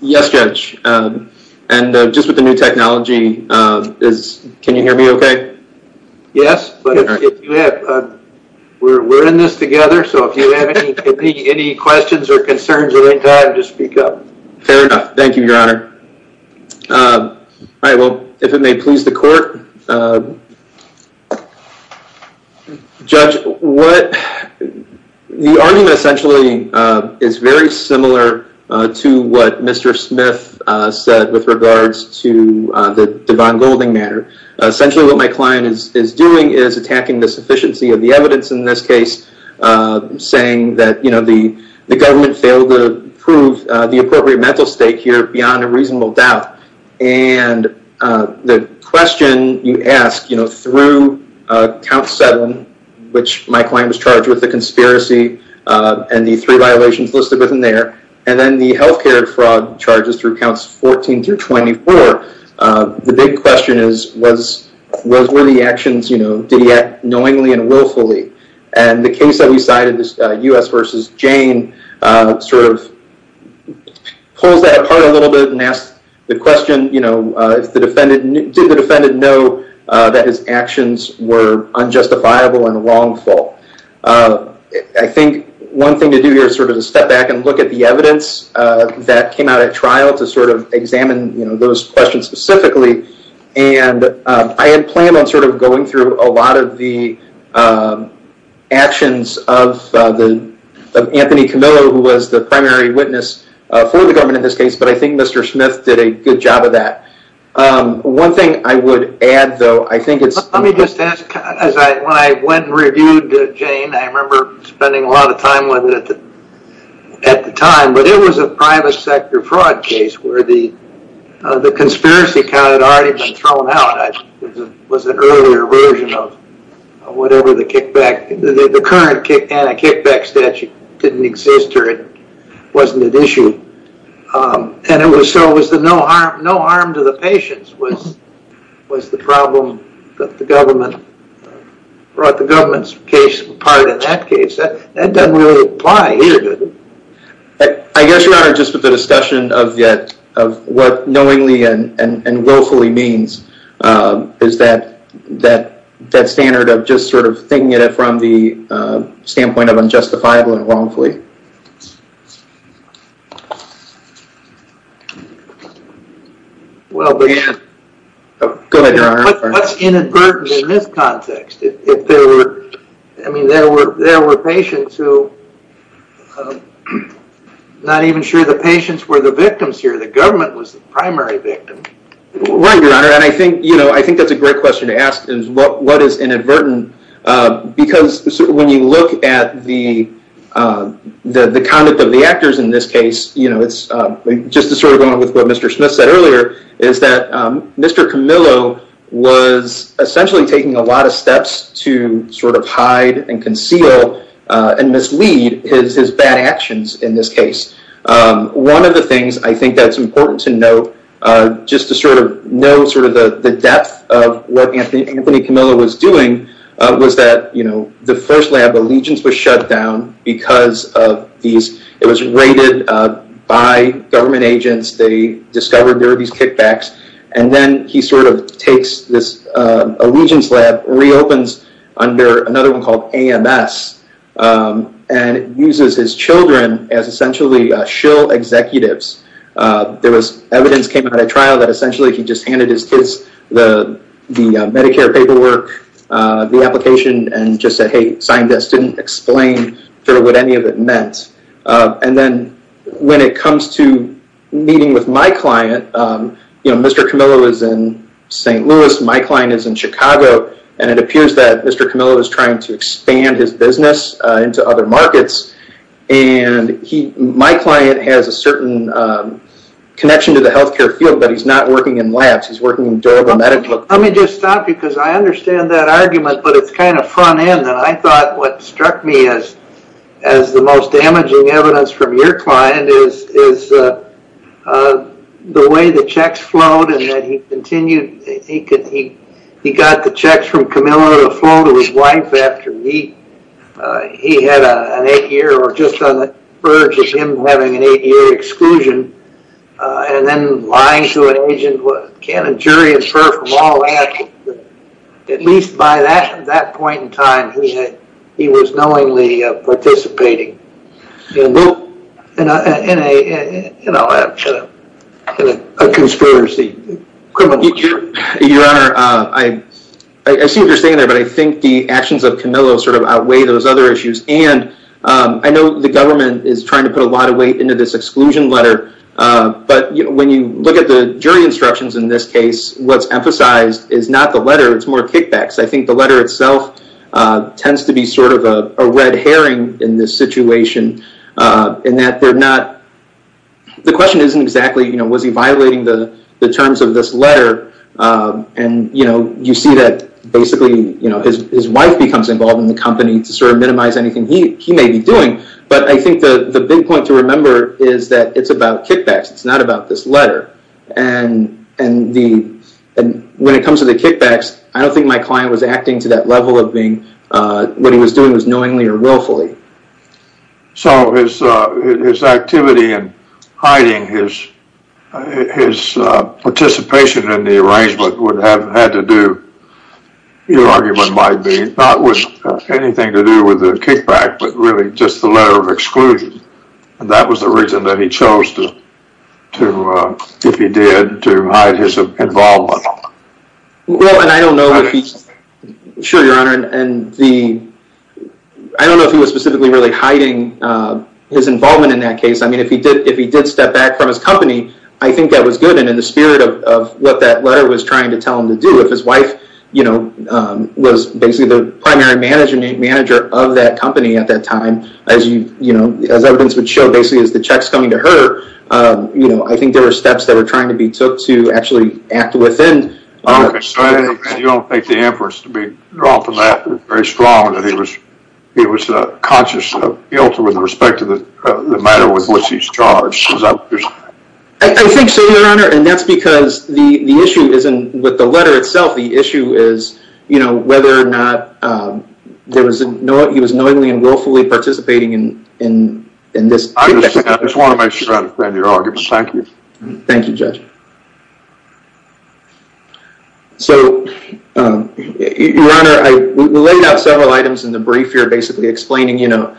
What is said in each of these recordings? Yes, Judge. And just with the new technology, can you hear me okay? Yes. We're in this together. So if you have any questions or concerns at any time, just speak up. Fair enough. Thank you, Your Honor. All right. Well, if it may please the court. Judge, the argument essentially is very similar to what Mr. Smith said with regards to the Devon Golding matter. Essentially, what my client is doing is attacking the sufficiency of the evidence in this case, saying that the government failed to prove the appropriate mental state here beyond a question you ask through count seven, which my client was charged with a conspiracy and the three violations listed within there, and then the healthcare fraud charges through counts 14 through 24. The big question is, what were the actions? Did he act knowingly and willfully? And the case that we cited, this U.S. v. Jane, sort of pulls that apart a little bit and asks the question, did the defendant know that his actions were unjustifiable and wrongful? I think one thing to do here is sort of to step back and look at the evidence that came out at trial to sort of examine those questions specifically. And I had planned on sort of going through a lot of the actions of Anthony Camillo, who was the primary witness for the case, and I think Mr. Smith did a good job of that. One thing I would add though, I think it's... Let me just ask, when I went and reviewed Jane, I remember spending a lot of time with it at the time, but it was a private sector fraud case where the conspiracy count had already been thrown out. It was an earlier version of whatever the kickback, the current kickback statute didn't exist or it wasn't an issue. And it was so it was no harm to the patients was the problem that the government brought the government's case apart in that case. That doesn't really apply either, does it? I guess, Your Honor, just with the discussion of what knowingly and willfully means is that standard of just sort of thinking at it from the standpoint of unjustifiable and wrongfully. Go ahead, Your Honor. What's inadvertent in this context? I mean, there were patients who... Not even sure the patients were the victims here. The government was the primary victim. Right, Your Honor. And I think that's a great question to ask is what is inadvertent? Because when you look at the conduct of the actors in this case, just to sort of go on with what Mr. Smith said earlier, is that Mr. Camillo was essentially taking a lot of steps to sort of hide and conceal and mislead his bad actions in this case. One of the things I think that's was that the first lab, Allegiance, was shut down because of these... It was raided by government agents. They discovered there were these kickbacks. And then he sort of takes this Allegiance lab, reopens under another one called AMS, and uses his children as essentially shill executives. There was evidence came out of trial that essentially he just handed his kids the Medicare paperwork, the application, and just said, hey, signed this, didn't explain sort of what any of it meant. And then when it comes to meeting with my client, Mr. Camillo is in St. Louis. My client is in Chicago. And it appears that Mr. Camillo is trying to expand his business into other markets. And my client has a certain connection to the government. Let me just stop you because I understand that argument, but it's kind of front end. And I thought what struck me as the most damaging evidence from your client is the way the checks flowed and that he continued. He got the checks from Camillo to flow to his wife after he had an eight-year or just on the verge of him having an eight-year exclusion. And then lying to an agent. Can a jury infer from all that? At least by that point in time, he was knowingly participating in a conspiracy. Your Honor, I see what you're saying there, but I think the actions of Camillo sort of outweigh those other issues. And I know the government is but when you look at the jury instructions in this case, what's emphasized is not the letter, it's more kickbacks. I think the letter itself tends to be sort of a red herring in this situation in that they're not, the question isn't exactly, was he violating the terms of this letter? And you see that basically his wife becomes involved in the company to sort of minimize anything he may be doing. But I think the big point to remember is that it's about kickbacks. It's not about this letter. And when it comes to the kickbacks, I don't think my client was acting to that level of being, what he was doing was knowingly or willfully. So his activity and hiding his participation in the arrangement would have had to do, your argument might be, not with anything to do with the kickback, but really just the letter of exclusion. And that was the reason that he chose to, if he did, to hide his involvement. Well, and I don't know if he, sure, your Honor, and the, I don't know if he was specifically really hiding his involvement in that case. I mean, if he did step back from his company, I think that was good. And in the spirit of what that letter was trying to tell him to do, if his wife, you know, was basically the primary manager of that company at that time, as you, you know, as evidence would show, basically as the checks coming to her, you know, I think there were steps that were trying to be took to actually act within. You don't think the inference to be drawn from that was very strong that he was, he was conscious of guilt with respect to the matter with which he's charged? I think so, your Honor, and that's because the issue isn't with the letter itself. The issue is, you know, whether or not there was, he was knowingly and willfully participating in, in, in this. I just want to make sure I understand your argument. Thank you. Thank you, Judge. So, your Honor, I laid out several items in the brief here, basically explaining, you know,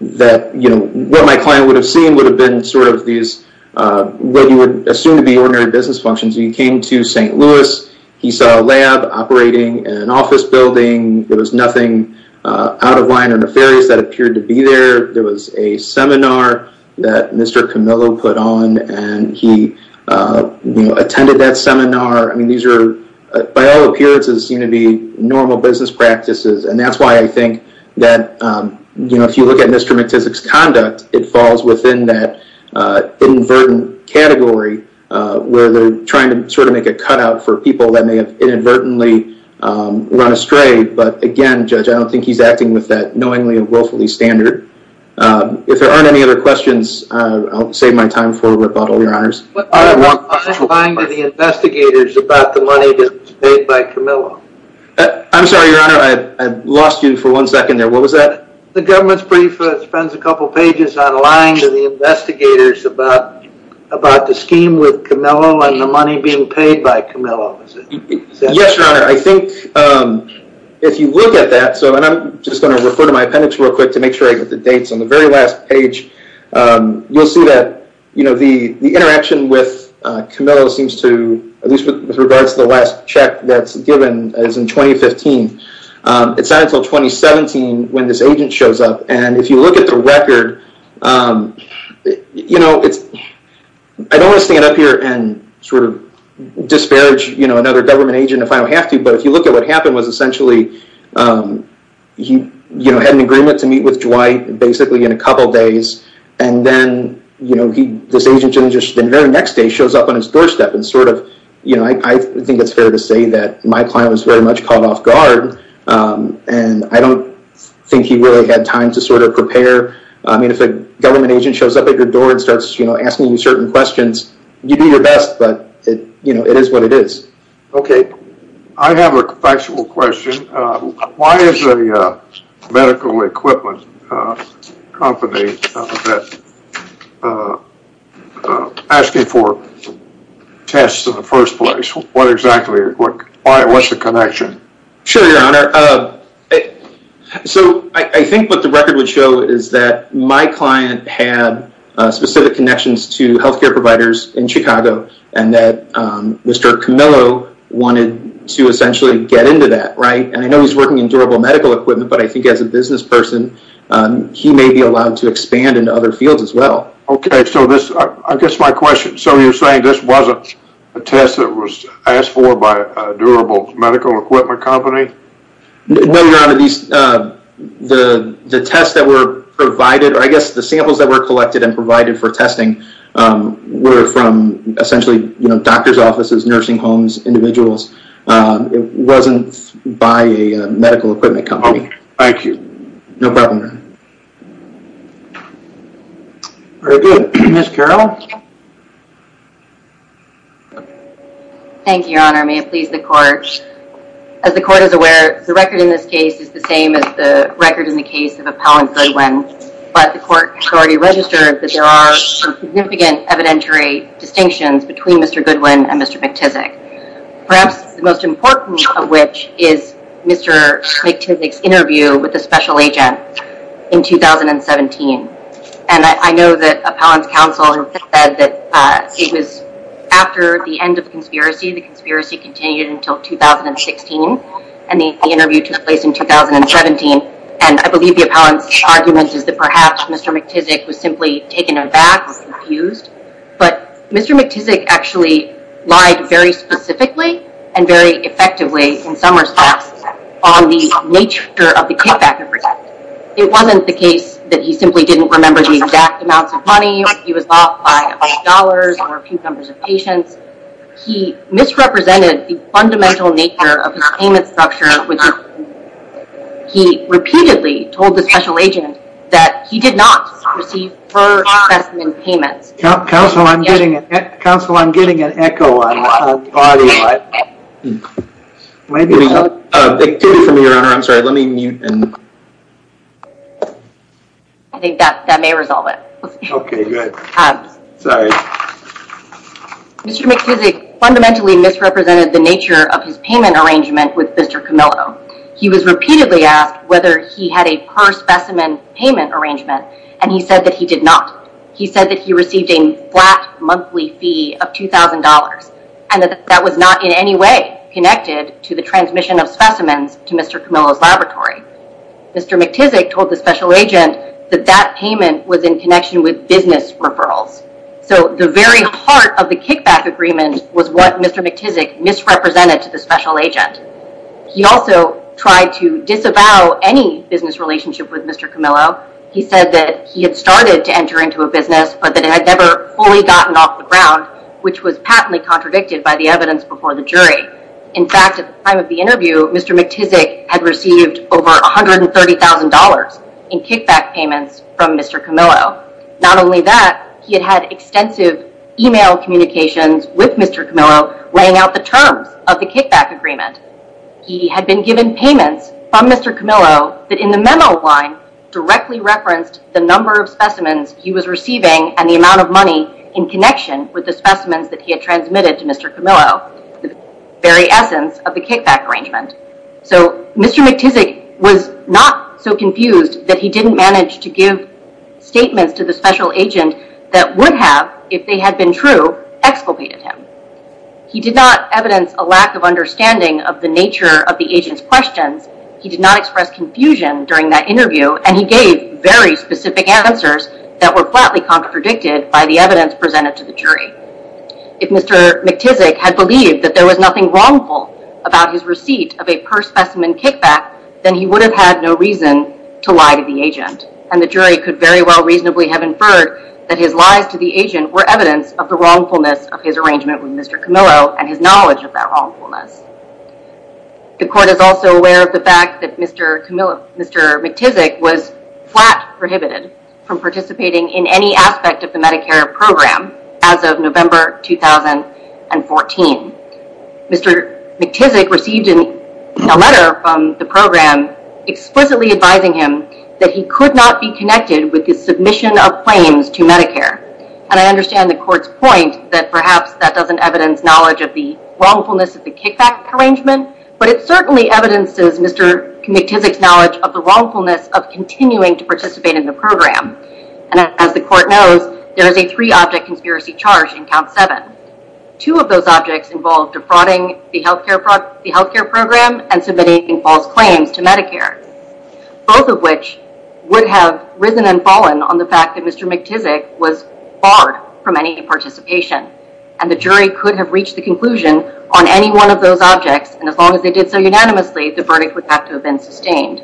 that, you know, what my client would have seen would have been sort of these, what you would assume to be ordinary business functions. When he came to St. Louis, he saw a lab operating in an office building. There was nothing out of line or nefarious that appeared to be there. There was a seminar that Mr. Camillo put on and he, you know, attended that seminar. I mean, these are, by all appearances, seem to be normal business practices. And that's why I think that, you know, if you look at Mr. McTusick's conduct, it falls within that inadvertent category, where they're trying to sort of make a cutout for people that may have inadvertently run astray. But again, Judge, I don't think he's acting with that knowingly and willfully standard. If there aren't any other questions, I'll save my time for rebuttal, your Honors. What are you implying to the investigators about the money that was paid by Camillo? I'm sorry, your Honor. I lost you for one second there. What was that? The government's brief spends a couple of pages online to the investigators about the scheme with Camillo and the money being paid by Camillo. Yes, your Honor. I think if you look at that, so, and I'm just going to refer to my appendix real quick to make sure I get the dates. On the very last page, you'll see that, you know, the interaction with Camillo seems to, at least with regards to the last check that's given is in 2015. It's not until 2017 when this agent shows up. And if you look at the record, you know, it's, I don't want to stand up here and sort of disparage, you know, another government agent if I don't have to. But if you look at what happened was essentially, he, you know, had an agreement to meet with Dwight basically in a couple of days. And then, you know, he, this agent didn't just, the very next day shows up on his doorstep and sort of, you know, I think it's fair to say that my client was very much caught off guard. And I don't think he really had time to sort of prepare. I mean, if a government agent shows up at your door and starts, you know, asking you certain questions, you do your best, but it, you know, it is what it is. Okay. I have a factual question. Why is a medical equipment company that is asking for tests in the first place? What exactly, what's the connection? Sure, your honor. So I think what the record would show is that my client had specific connections to healthcare providers in Chicago and that Mr. Camillo wanted to essentially get into that, right? And I know he's working in durable medical equipment, but I think as a So this, I guess my question. So you're saying this wasn't a test that was asked for by a durable medical equipment company? No, your honor. These, the tests that were provided, or I guess the samples that were collected and provided for testing were from essentially, you know, doctor's offices, nursing homes, individuals. It wasn't by a medical equipment company. Thank you. No problem, your honor. Very good. Ms. Carroll. Thank you, your honor. May it please the court. As the court is aware, the record in this case is the same as the record in the case of Appellant Goodwin, but the court has already registered that there are some significant evidentiary distinctions between Mr. Goodwin and Mr. McTizek. Perhaps the most important of which is Mr. McTizek's interview with a special agent in 2017. And I know that Appellant's counsel said that it was after the end of the conspiracy, the conspiracy continued until 2016, and the interview took place in 2017. And I believe the Appellant's argument is that perhaps Mr. McTizek was simply taken aback and confused. But Mr. McTizek actually lied very specifically and very effectively in some respects on the nature of the kickback. It wasn't the case that he simply didn't remember the exact amounts of money. He was bought by dollars or a few numbers of patients. He misrepresented the fundamental nature of his payment structure. He repeatedly told the special agent that he did not receive fur specimen payments. Counsel, I'm getting an echo on the audio. I think that may resolve it. Okay, good. Mr. McTizek fundamentally misrepresented the nature of his payment arrangement with Mr. Camillo. He was repeatedly asked whether he had a fur specimen payment arrangement, and he said that he did not. He said that he received a flat monthly fee of $2,000 and that that was not in any way connected to the transmission of specimens to Mr. Camillo's laboratory. Mr. McTizek told the special agent that that payment was in connection with business referrals. So the very heart of the kickback agreement was what Mr. McTizek misrepresented to the special agent. He also tried to disavow any business relationship with Mr. Camillo. He said that he had started to enter into a business, but that it had never fully gotten off the ground, which was patently contradicted by the evidence before the jury. In fact, at the time of the interview, Mr. McTizek had received over $130,000 in kickback payments from Mr. Camillo. Not only that, he had had extensive email communications with Mr. Camillo laying out the terms of the kickback agreement. He had been given payments from Mr. Camillo that in the memo line directly referenced the number of specimens he was receiving and the amount of money in connection with the specimens that he had transmitted to Mr. Camillo, the very essence of the kickback arrangement. So Mr. McTizek was not so confused that he didn't manage to give statements to the special agent that would have, if they had been true, exculpated him. He did not evidence a lack of understanding of the nature of the agent's questions. He did not express confusion during that interview, and he gave very specific answers that were flatly contradicted by the evidence presented to the jury. If Mr. McTizek had believed that there was nothing wrongful about his receipt of a per-specimen kickback, then he would have had no reason to lie to the agent. And the jury could very well reasonably have inferred that his lies to the agent were evidence of the wrongfulness of his arrangement with Mr. Camillo and his Mr. McTizek was flat prohibited from participating in any aspect of the Medicare program as of November 2014. Mr. McTizek received a letter from the program explicitly advising him that he could not be connected with his submission of claims to Medicare. And I understand the court's point that perhaps that doesn't evidence knowledge of the wrongfulness of the kickback arrangement, but it certainly evidences Mr. McTizek's knowledge of the wrongfulness of continuing to participate in the program. And as the court knows, there is a three-object conspiracy charge in count seven. Two of those objects involved defrauding the healthcare program and submitting false claims to Medicare, both of which would have risen and fallen on the fact that Mr. McTizek was barred from any participation. And the jury could have reached the conclusion on any one of those objects. And as long as they did so unanimously, the verdict would have to have been sustained.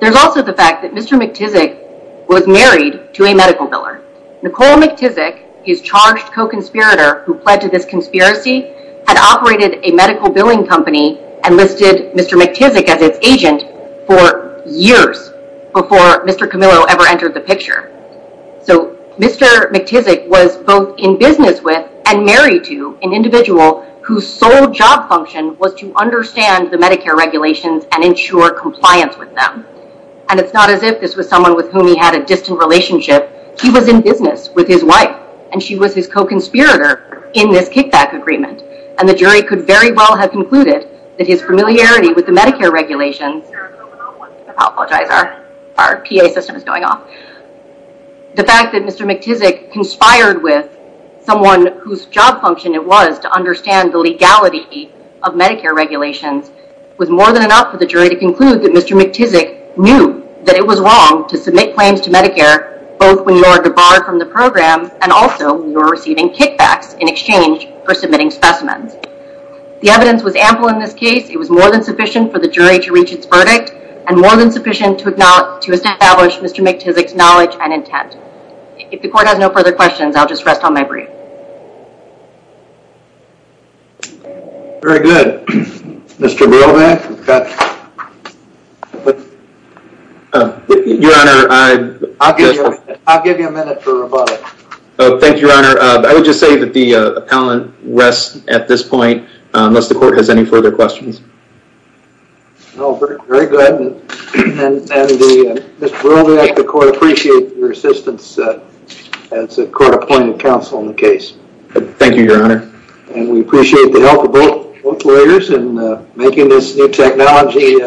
There's also the fact that Mr. McTizek was married to a medical biller. Nicole McTizek, his charged co-conspirator who pledged to this conspiracy, had operated a medical billing company and listed Mr. McTizek as its agent for years before Mr. Camillo ever entered the picture. So Mr. McTizek was both in business with and married to an individual whose sole job function was to understand the Medicare regulations and ensure compliance with them. And it's not as if this was someone with whom he had a distant relationship. He was in business with his wife and she was his co-conspirator in this kickback agreement. And the jury could very well have concluded that his familiarity with the Medicare regulations... I apologize, our PA system is going off. The fact that Mr. McTizek conspired with someone whose job function it was to understand the legality of Medicare regulations was more than enough for the jury to conclude that Mr. McTizek knew that it was wrong to submit claims to Medicare both when you are debarred from the program and also when you are receiving kickbacks in exchange for submitting specimens. The evidence was ample in this case. It was more than sufficient for the jury to reach its verdict and more than sufficient to acknowledge... to establish Mr. McTizek's knowledge and intent. If the court has no further questions, I'll just rest on my breath. Very good. Mr. Brovac? Your Honor, I'll give you a minute for rebuttal. Thank you, Your Honor. I would just say that the appellant rests at this point unless the court has any further questions. No, very good. Mr. Brovac, the court appreciates your assistance as a court-appointed counsel in the case. Thank you, Your Honor. And we appreciate the help of both lawyers in making this new technology a reality.